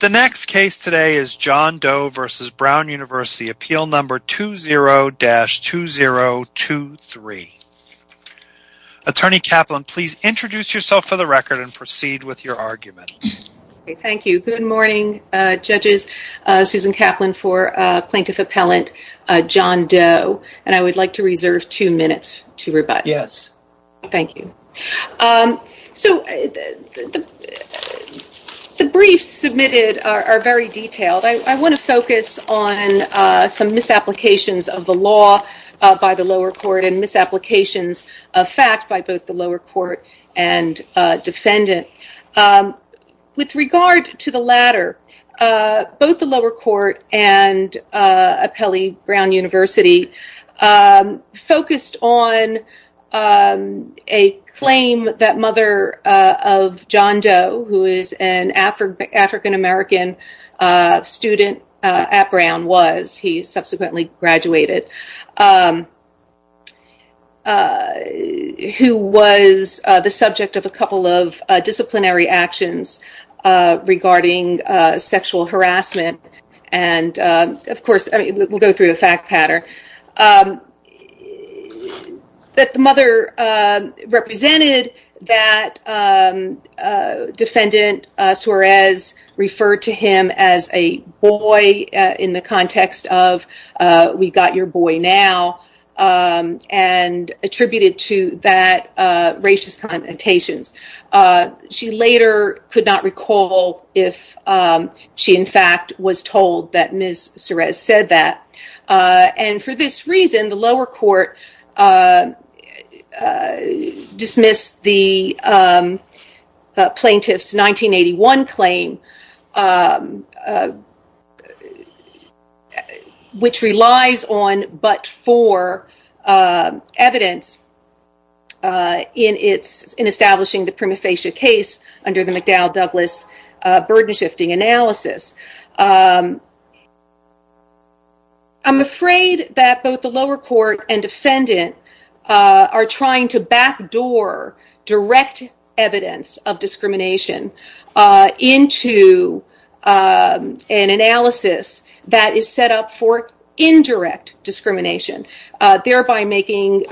The next case today is John Doe v. Brown University, appeal number 20-2023. Attorney Kaplan, please introduce yourself for the record and proceed with your argument. Thank you. Good morning, judges. Susan Kaplan for Plaintiff Appellant John Doe, and I would like to reserve two minutes to rebut. Yes. Thank you. So, the briefs submitted are very detailed. I want to focus on some misapplications of the law by the lower court and misapplications of fact by both the lower court and defendant. With regard to the latter, both the lower court and Appellee Brown University focused on a claim that mother of John Doe, who is an African-American student at Brown was, he subsequently graduated, who was the subject of a couple of disciplinary actions regarding sexual harassment, and of course, we'll go through a fact pattern, that the mother represented that defendant, Suarez, referred to him as a boy in the context of, we got your boy now, and attributed to that, racist connotations. She later could not recall if she in fact was told that Ms. Suarez said that, and for this reason, the lower court dismissed the plaintiff's 1981 claim, which relies on but for evidence in establishing the prima facie case under the McDowell-Douglas burden-shifting analysis. I'm afraid that both the lower court and defendant are trying to backdoor direct evidence of discrimination, thereby making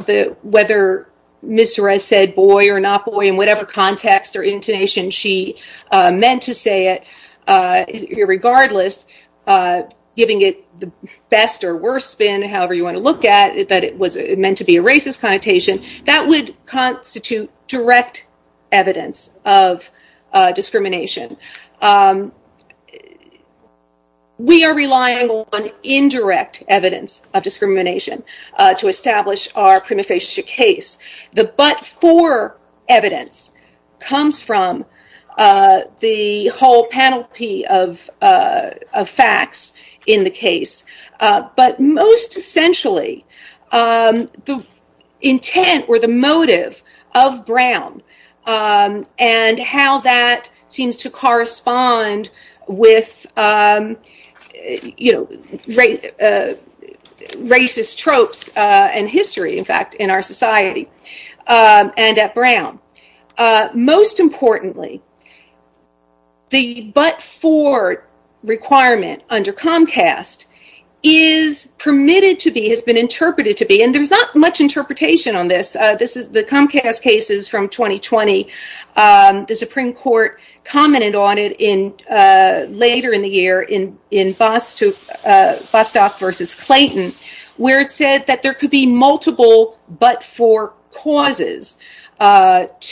whether Ms. Suarez said boy or not boy in whatever context or intonation she meant to say it, regardless, giving it the best or worst spin, however you want to look at it, that it was meant to be a racist connotation, that would constitute direct evidence of discrimination. We are relying on indirect evidence of discrimination to establish our prima facie case. The but for evidence comes from the whole panoply of facts in the case, but most essentially, the intent or the motive of Brown and how that seems to correspond with racist tropes and history, in fact, in our society and at Brown. Most importantly, the but for requirement under Comcast is permitted to be, has been interpreted to be, and there's not much interpretation on this, the Comcast cases from 2020, the Supreme Court commented on it later in the year in Bostock v. Clayton, where it said that there could be multiple but for causes that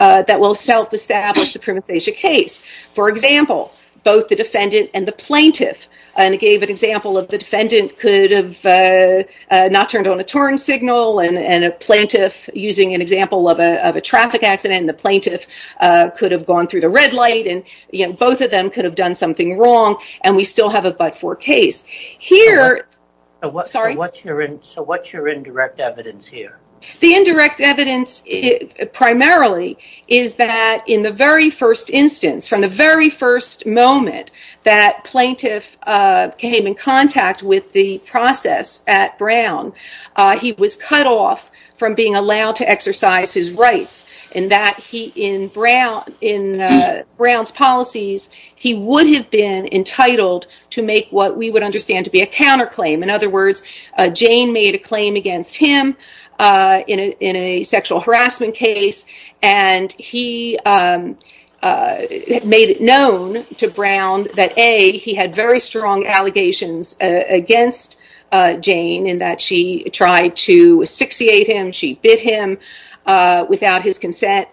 will self-establish the prima facie case. For example, both the defendant and the plaintiff, and it gave an example of the defendant could have not turned on a turn signal and a plaintiff, using an example of a traffic accident, and the plaintiff could have gone through the red light, and both of them could have done something wrong, and we still have a but for case. So what's your indirect evidence here? The indirect evidence, primarily, is that in the very first instance, from the very first moment that plaintiff came in contact with the process at Brown, he was cut off from being allowed to exercise his rights, and that he, in Brown's policies, he would have been entitled to make what we would understand to be a counterclaim. In other words, Jane made a claim against him in a sexual harassment case, and he made it known to Brown that A, he had very strong allegations against Jane, in that she tried to asphyxiate him, she bit him, without his consent,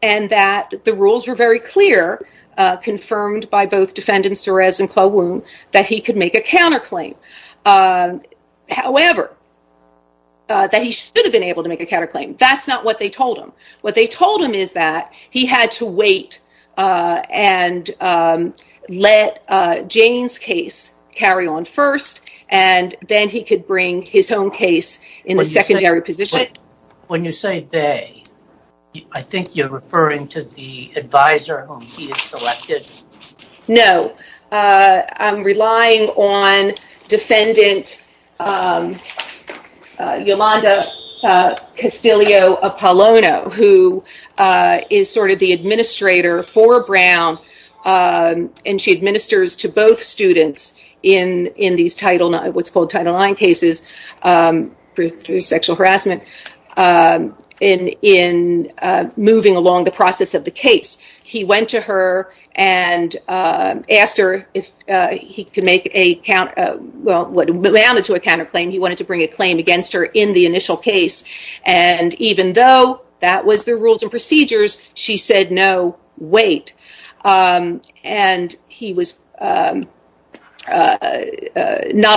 and that the rules were very clear, confirmed by both defendants Torres and Klawun, that he could make a counterclaim. However, that he should have been able to make a counterclaim, that's not what they told him. What they told him is that he had to wait and let Jane's case carry on first, and then he could bring his own case in the secondary position. When you say they, I think you're referring to the advisor whom he had selected? No. I'm relying on defendant Yolanda Castillo-Apollono, who is sort of the administrator for Brown, and she administers to both students in what's called Title IX cases, through sexual harassment, in moving along the process of the case. He went to her and asked her if he could make a, well, what amounted to a counterclaim, he wanted to bring a claim against her in the initial case, and even though that was the rules and procedures, she said no, wait, and he was not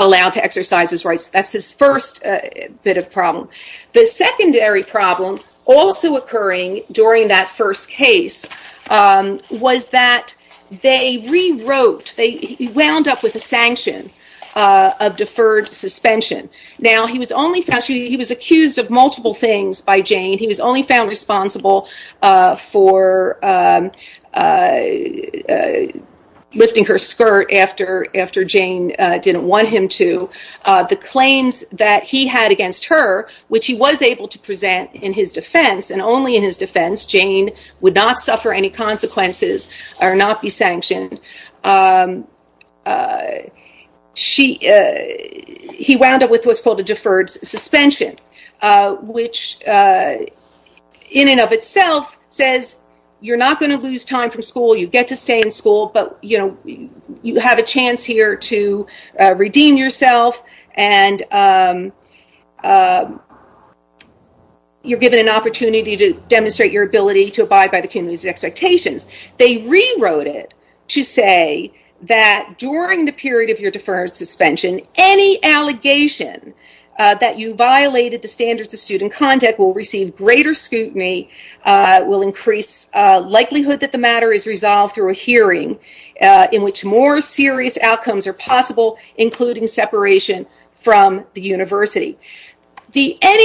allowed to exercise his rights. That's his first bit of problem. The secondary problem also occurring during that first case was that they rewrote, they wound up with a sanction of deferred suspension. Now, he was only found, he was accused of multiple things by Jane, he was only found responsible for lifting her skirt after Jane didn't want him to. The claims that he had against her, which he was able to present in his defense, and only in his defense, Jane would not suffer any consequences or not be sanctioned. He wound up with what's called a deferred suspension, which in and of itself says you're not going to lose time from school, you get to stay in school, but you have a chance here to redeem yourself, and you're given an opportunity to demonstrate your ability to abide by the community's expectations. They rewrote it to say that during the period of your deferred suspension, any allegation that you violated the standards of student conduct will receive greater scrutiny, will increase likelihood that the matter is resolved through a hearing, in which more serious outcomes are possible, including separation from the university. How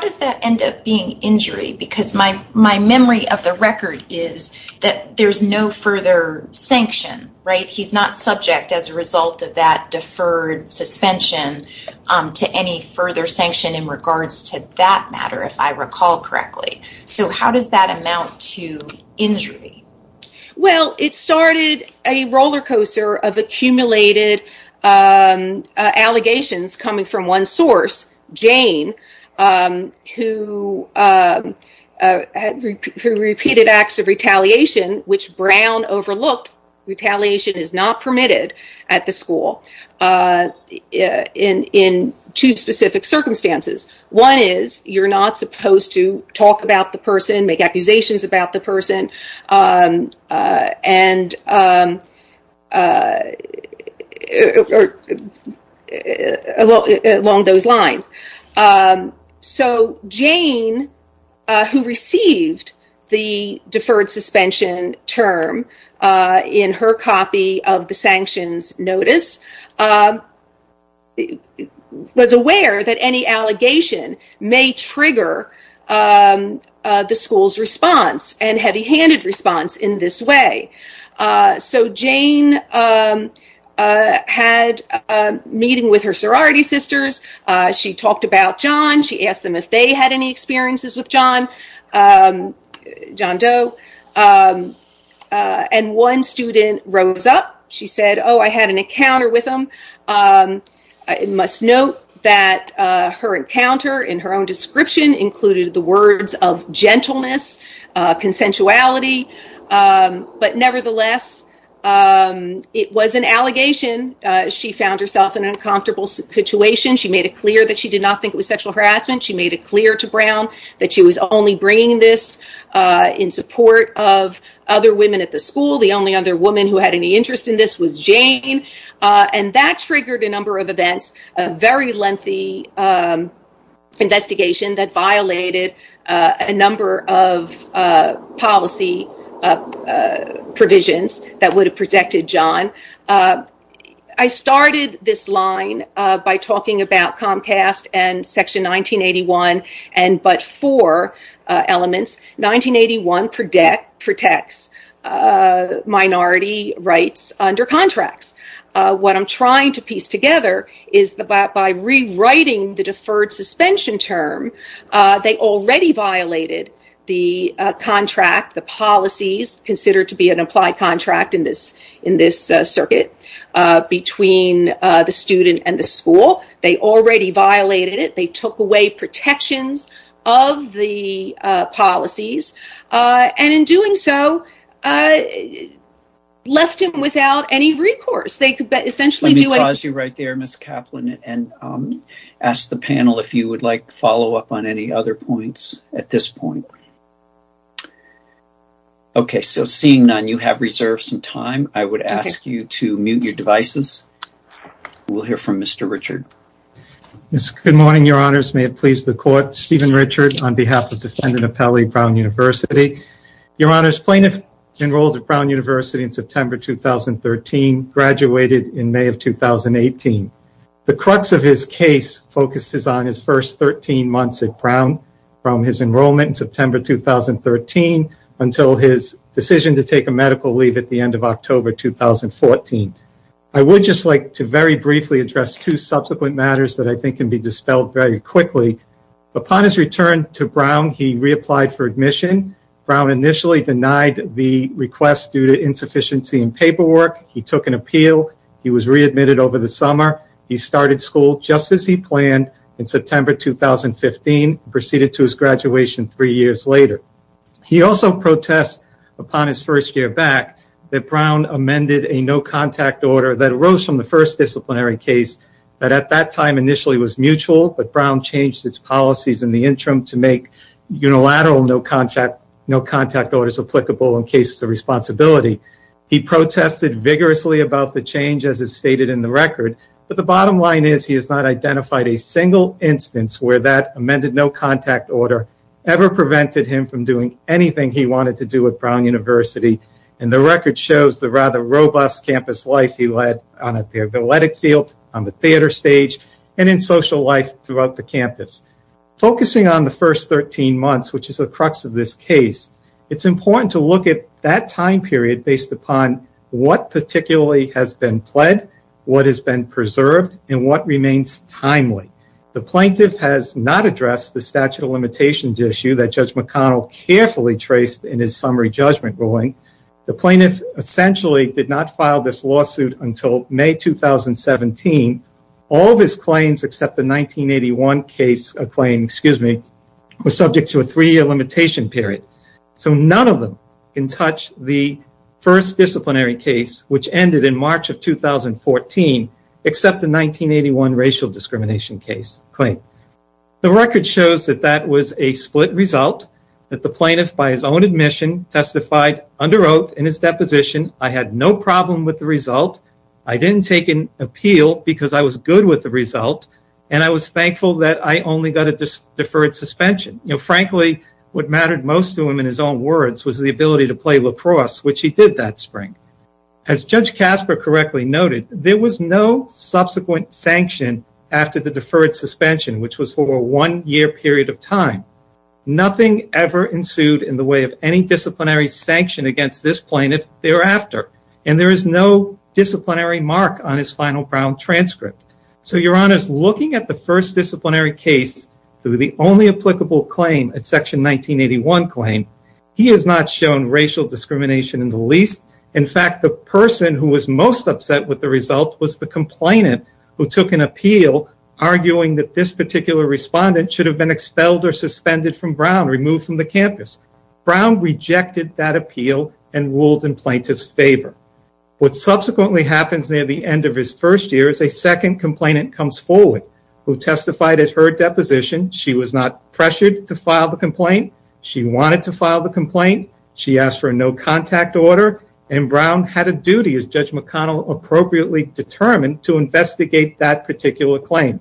does that end up being injury? Because my memory of the record is that there's no further sanction, right? He's not subject as a result of that deferred suspension to any further sanction in regards to that matter, if I recall correctly. How does that amount to injury? Well, it started a rollercoaster of accumulated allegations coming from one source, Jane, who repeated acts of retaliation, which Brown overlooked. Retaliation is not permitted at the school in two specific circumstances. One is, you're not supposed to talk about the person, make accusations about the person, along those lines. So, Jane, who received the deferred suspension term in her copy of the sanctions notice, was aware that any allegation may trigger the school's response and heavy-handed response in this way. So, Jane had a meeting with her sorority sisters, she talked about John, she asked them if they had any experiences with John, John Doe, and one student rose up, she said, Oh, I had an encounter with him. I must note that her encounter in her own description included the words of gentleness, consensuality, but nevertheless, it was an allegation. She found herself in an uncomfortable situation, she made it clear that she did not think it was sexual harassment, she made it clear to Brown that she was only bringing this in support of other women at the school. The only other woman who had any interest in this was Jane, and that triggered a number of events, a very lengthy investigation that violated a number of policy provisions that would have protected John. I started this line by talking about Comcast and Section 1981, but four elements. 1981 protects minority rights under contracts. What I'm trying to piece together is that by rewriting the deferred suspension term, they already violated the contract, the policies considered to be an applied contract in this school, they already violated it, they took away protections of the policies, and in doing so, left him without any recourse. Let me pause you right there, Ms. Kaplan, and ask the panel if you would like to follow up on any other points at this point. Okay, so seeing none, you have reserved some time. I would ask you to mute your devices. We'll hear from Mr. Richard. Good morning, Your Honors. May it please the Court. Stephen Richard on behalf of Defendant Apelli, Brown University. Your Honors, plaintiff enrolled at Brown University in September 2013, graduated in May of 2018. The crux of his case focuses on his first 13 months at Brown, from his enrollment in September 2013 until his decision to take a medical leave at the end of October 2014. I would just like to very briefly address two subsequent matters that I think can be dispelled very quickly. Upon his return to Brown, he reapplied for admission. Brown initially denied the request due to insufficiency in paperwork. He took an appeal. He was readmitted over the summer. He started school just as he planned in September 2015, and proceeded to his graduation three years later. He also protests upon his first year back that Brown amended a no-contact order that arose from the first disciplinary case that at that time initially was mutual, but Brown changed its policies in the interim to make unilateral no-contact orders applicable in cases of responsibility. He protested vigorously about the change, as is stated in the record, but the bottom line is he has not identified a single instance where that amended no-contact order ever prevented him from doing anything he wanted to do with Brown University, and the record shows the rather robust campus life he led on the athletic field, on the theater stage, and in social life throughout the campus. Focusing on the first 13 months, which is the crux of this case, it's important to look at that time period based upon what particularly has been pled, what has been preserved, and what remains timely. The plaintiff has not addressed the statute of limitations issue that Judge McConnell carefully traced in his summary judgment ruling. The plaintiff essentially did not file this lawsuit until May 2017. All of his claims except the 1981 claim were subject to a three-year limitation period, so none of them can touch the first disciplinary case, which ended in March of 2014, except the 1981 racial discrimination case claim. The record shows that that was a split result, that the plaintiff, by his own admission, testified under oath in his deposition, I had no problem with the result, I didn't take an appeal because I was good with the result, and I was thankful that I only got a deferred suspension. Frankly, what mattered most to him in his own words was the ability to play lacrosse, which he did that spring. As Judge Casper correctly noted, there was no subsequent sanction after the deferred suspension, which was for a one-year period of time. Nothing ever ensued in the way of any disciplinary sanction against this plaintiff thereafter, and there is no disciplinary mark on his final Brown transcript. So, Your Honors, looking at the first disciplinary case through the only applicable claim, Section 1981 claim, he has not shown racial discrimination in the least. In fact, the person who was most upset with the result was the complainant who took an appeal, arguing that this particular respondent should have been expelled or suspended from Brown, removed from the campus. Brown rejected that appeal and ruled in plaintiff's favor. What subsequently happens near the end of his first year is a second complainant comes forward, who testified at her deposition. She was not pressured to file the complaint. She wanted to file the complaint. She asked for a no-contact order, and Brown had a duty, as Judge McConnell appropriately determined, to investigate that particular claim.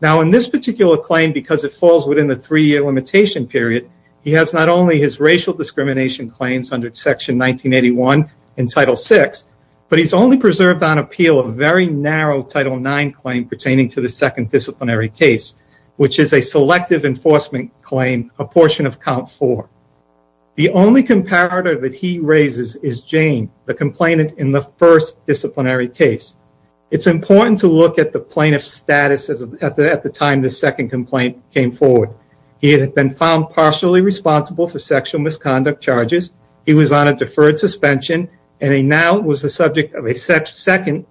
Now, in this particular claim, because it falls within the three-year limitation period, he has not only his racial discrimination claims under Section 1981 in Title VI, but he's only preserved on appeal a very narrow Title IX claim pertaining to the second disciplinary case, which is a selective enforcement claim, a portion of count four. The only comparator that he raises is Jane, the complainant in the first disciplinary case. It's important to look at the plaintiff's status at the time this second complaint came forward. He had been found partially responsible for sexual misconduct charges. He was on a deferred suspension, and he now was the subject of a second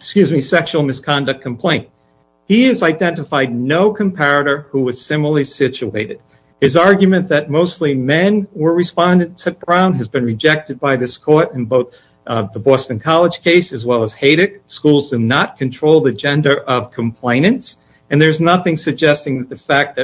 sexual misconduct complaint. He has identified no comparator who was similarly situated. His argument that mostly men were respondents at Brown has been rejected by this court in both the Boston College case as well as Haydick. Schools do not control the gender of complainants, and there's nothing suggesting that the fact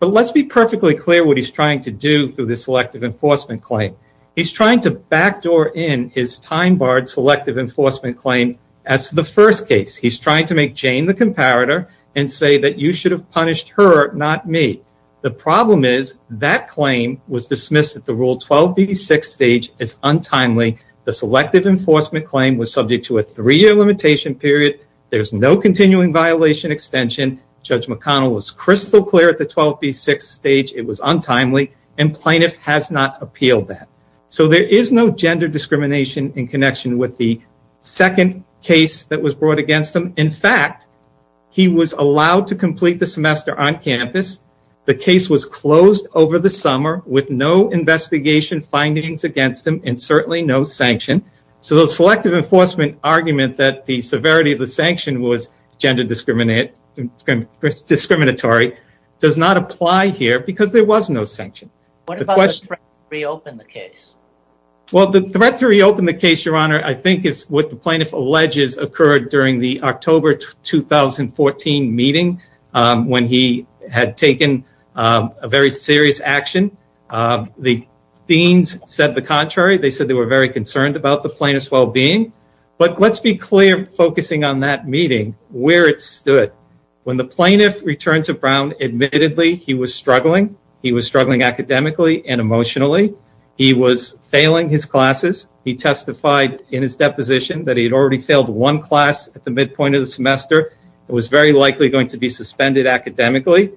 But let's be perfectly clear what he's trying to do through this selective enforcement claim. He's trying to backdoor in his time-barred selective enforcement claim as to the first case. He's trying to make Jane the comparator and say that you should have punished her, not me. The problem is that claim was dismissed at the Rule 12B6 stage as untimely. The selective enforcement claim was subject to a three-year limitation period. There's no continuing violation extension. Judge McConnell was crystal clear at the 12B6 stage it was untimely, and plaintiff has not appealed that. So there is no gender discrimination in connection with the second case that was brought against him. In fact, he was allowed to complete the semester on campus. The case was closed over the summer with no investigation findings against him and certainly no sanction. So the selective enforcement argument that the severity of the sanction was gender discriminatory does not apply here because there was no sanction. What about the threat to reopen the case? Well, the threat to reopen the case, Your Honor, I think is what the plaintiff alleges occurred during the October 2014 meeting when he had taken a very serious action. The deans said the contrary. They said they were very concerned about the plaintiff's well-being. But let's be clear focusing on that meeting, where it stood. When the plaintiff returned to Brown, admittedly, he was struggling. He was struggling academically and emotionally. He was failing his classes. He testified in his deposition that he had already failed one class at the midpoint of the semester and was very likely going to be suspended academically.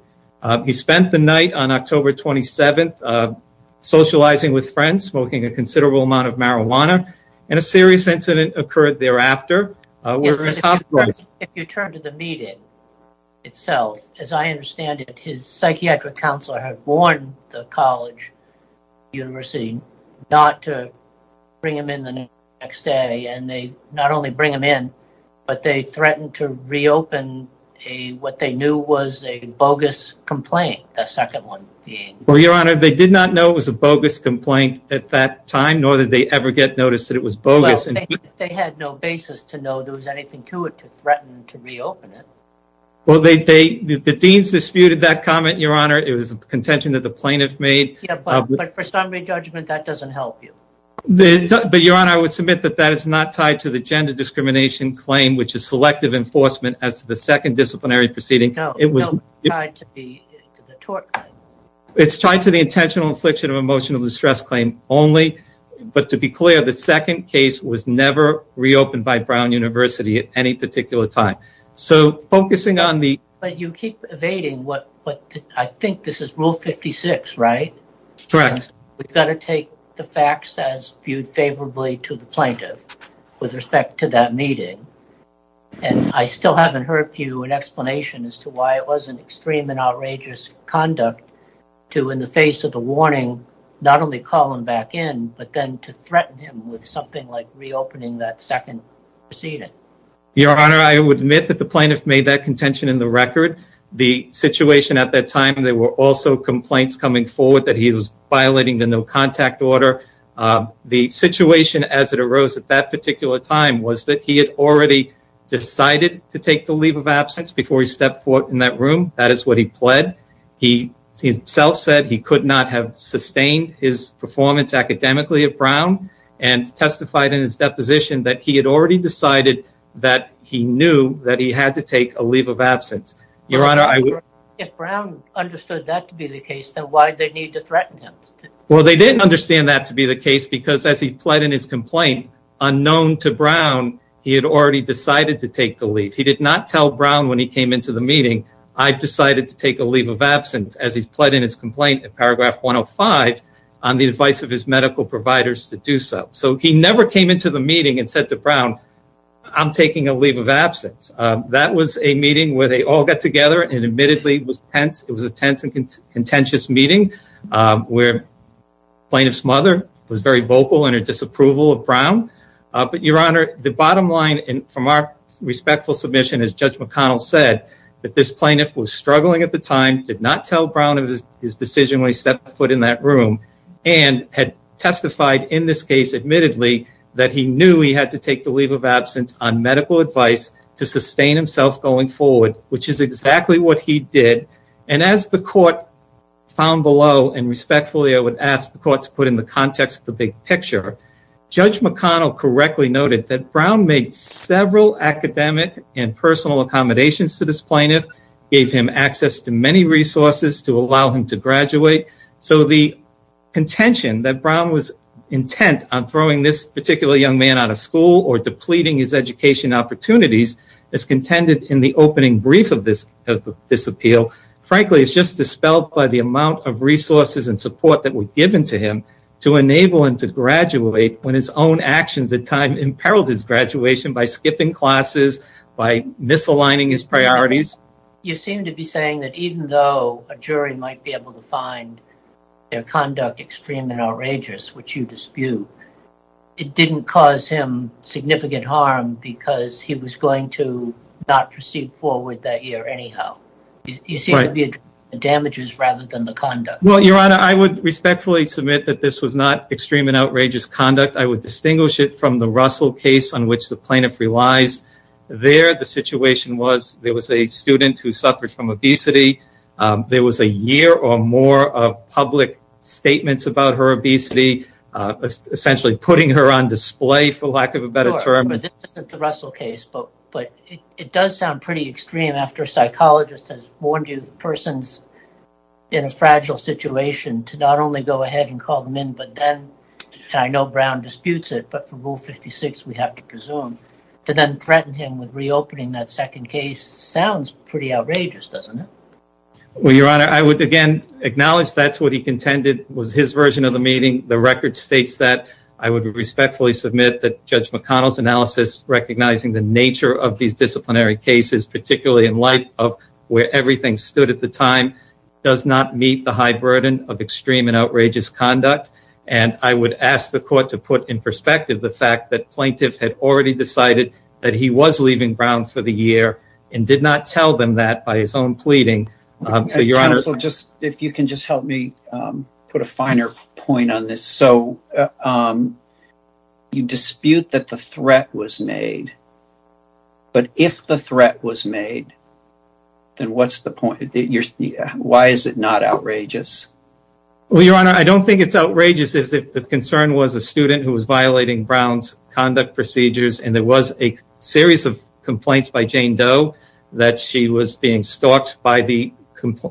He spent the night on October 27th socializing with friends, smoking a considerable amount of marijuana, and a serious incident occurred thereafter. If you turn to the meeting itself, as I understand it, his psychiatric counselor had warned the college and university not to bring him in the next day. And they not only bring him in, but they threatened to reopen what they knew was a bogus complaint, the second one being. Well, Your Honor, they did not know it was a bogus complaint at that time, nor did they ever get noticed that it was bogus. They had no basis to know there was anything to it to threaten to reopen it. Well, the deans disputed that comment, Your Honor. It was a contention that the plaintiff made. But for summary judgment, that doesn't help you. But Your Honor, I would submit that that is not tied to the gender discrimination claim, which is selective enforcement as to the second disciplinary proceeding. No, it's tied to the tort claim. It's tied to the intentional infliction of emotional distress claim only. But to be clear, the second case was never reopened by Brown University at any particular time. So focusing on the. But you keep evading what I think this is rule 56, right? Correct. We've got to take the facts as viewed favorably to the plaintiff with respect to that meeting. And I still haven't heard you an explanation as to why it was an extreme and outrageous conduct to in the face of the warning, not only call him back in, but then to threaten him with something like reopening that second proceeding. Your Honor, I would admit that the plaintiff made that contention in the record. The situation at that time, there were also complaints coming forward that he was violating the no contact order. The situation as it arose at that particular time was that he had already decided to take the leave of absence before he stepped foot in that room. That is what he pled. He himself said he could not have sustained his performance academically at Brown and testified in his deposition that he had already decided that he knew that he had to take a leave of absence. Your Honor, I would. If Brown understood that to be the case, then why did they need to threaten him? Well, they didn't understand that to be the case because as he pled in his complaint unknown to Brown, he had already decided to take the leave. He did not tell Brown when he came into the meeting. I've decided to take a leave of absence as he's pled in his complaint. Paragraph 105 on the advice of his medical providers to do so. So he never came into the meeting and said to Brown, I'm taking a leave of absence. That was a meeting where they all got together. It admittedly was tense. It was a tense and contentious meeting where plaintiff's mother was very vocal in her disapproval of Brown. But, Your Honor, the bottom line from our respectful submission is Judge McConnell said that this plaintiff was struggling at the time, did not tell Brown of his decision when he stepped foot in that room, and had testified in this case admittedly that he knew he had to take the leave of absence on medical advice to sustain himself going forward, which is exactly what he did. And as the court found below, and respectfully I would ask the court to put in the context of the big picture, Judge McConnell correctly noted that Brown made several academic and personal accommodations to this plaintiff, gave him access to many resources to allow him to graduate. So the contention that Brown was intent on throwing this particular young man out of school or depleting his education opportunities is contended in the opening brief of this appeal. Frankly, it's just dispelled by the amount of resources and support that were given to him to enable him to graduate when his own actions at time imperiled his graduation by skipping classes, by misaligning his priorities. You seem to be saying that even though a jury might be able to find their conduct extreme and outrageous, which you dispute, it didn't cause him significant harm because he was going to not proceed forward that year anyhow. You seem to be addressing the damages rather than the conduct. Well, Your Honor, I would respectfully submit that this was not extreme and outrageous conduct. I would distinguish it from the Russell case on which the plaintiff relies. There, the situation was there was a student who suffered from obesity. There was a year or more of public statements about her obesity, essentially putting her on display, for lack of a better term. This isn't the Russell case, but it does sound pretty extreme after a psychologist has warned you the person's in a fragile situation to not only go ahead and call them in, but then, and I know Brown disputes it, but for Rule 56, we have to presume, to then threaten him with reopening that second case sounds pretty outrageous, doesn't it? Well, Your Honor, I would again acknowledge that's what he contended was his version of the meeting. The record states that I would respectfully submit that Judge McConnell's analysis recognizing the nature of these disciplinary cases, particularly in light of where everything stood at the time, does not meet the high burden of extreme and outrageous conduct. And I would ask the court to put in perspective the fact that plaintiff had already decided that he was leaving Brown for the year and did not tell them that by his own pleading. So, Your Honor, if you can just help me put a finer point on this. So, you dispute that the threat was made, but if the threat was made, then what's the point? Why is it not outrageous? Well, Your Honor, I don't think it's outrageous if the concern was a student who was violating Brown's conduct procedures and there was a series of complaints by Jane Doe that she was being stalked by the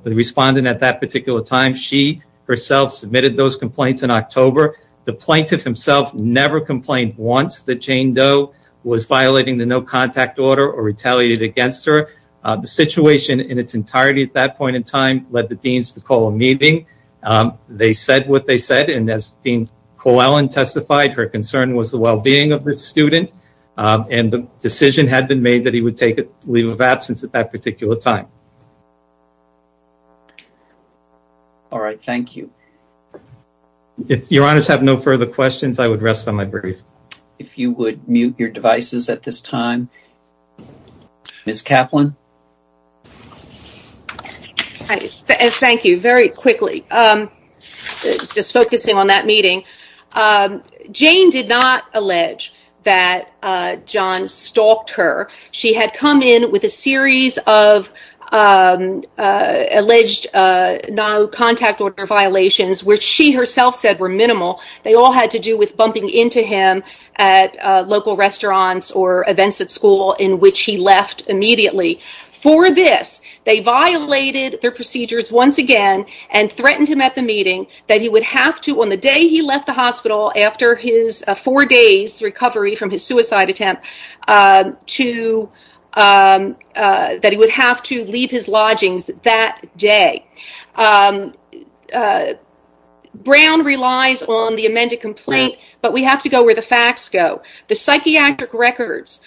respondent at that particular time. She herself submitted those complaints in October. The plaintiff himself never complained once that Jane Doe was violating the no contact order or retaliated against her. The situation in its entirety at that point in time led the deans to call a meeting. They said what they said. And as Dean Coellen testified, her concern was the well-being of the student. And the decision had been made that he would take a leave of absence at that particular time. All right. Thank you. If Your Honors have no further questions, I would rest on my brief. If you would mute your devices at this time. Ms. Kaplan. Thank you. Very quickly. Just focusing on that meeting. Jane did not allege that John stalked her. She had come in with a series of alleged no contact order violations, which she herself said were minimal. They all had to do with bumping into him at local restaurants or events at school in which he left immediately. For this, they violated their procedures once again and threatened him at the meeting that he would have to, on the day he left the hospital after his four days recovery from his suicide attempt, that he would have to leave his lodgings that day. Brown relies on the amended complaint, but we have to go where the facts go. The psychiatric records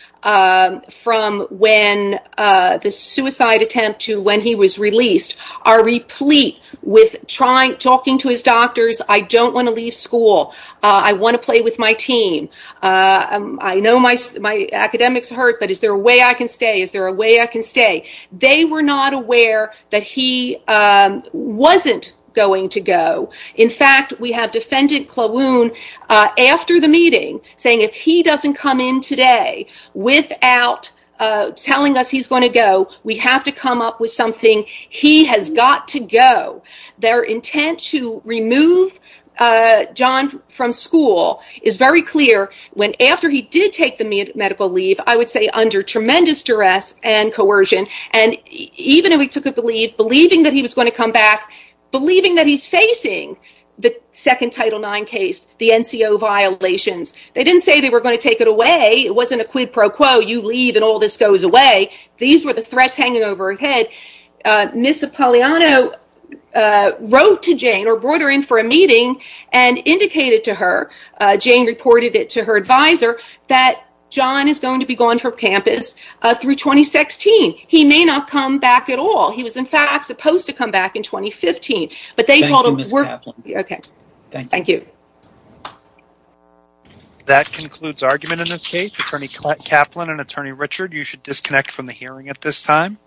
from when the suicide attempt to when he was released are replete with talking to his doctors. I don't want to leave school. I want to play with my team. I know my academics hurt, but is there a way I can stay? Is there a way I can stay? They were not aware that he wasn't going to go. In fact, we have defendant Klawun after the meeting saying if he doesn't come in today without telling us he's going to go, we have to come up with something. He has got to go. Their intent to remove John from school is very clear. After he did take the medical leave, I would say under tremendous duress and coercion, and even though he took a leave believing that he was going to come back, believing that he's facing the second Title IX case, the NCO violations. They didn't say they were going to take it away. It wasn't a quid pro quo. You leave and all this goes away. These were the threats hanging over his head. Ms. Apolliano wrote to Jane or brought her in for a meeting and indicated to her, Jane reported it to her advisor, that John is going to be gone from campus through 2016. He may not come back at all. He was in fact supposed to come back in 2015. Thank you, Ms. Kaplan. That concludes argument in this case. Attorney Kaplan and Attorney Richard, you should disconnect from the hearing at this time.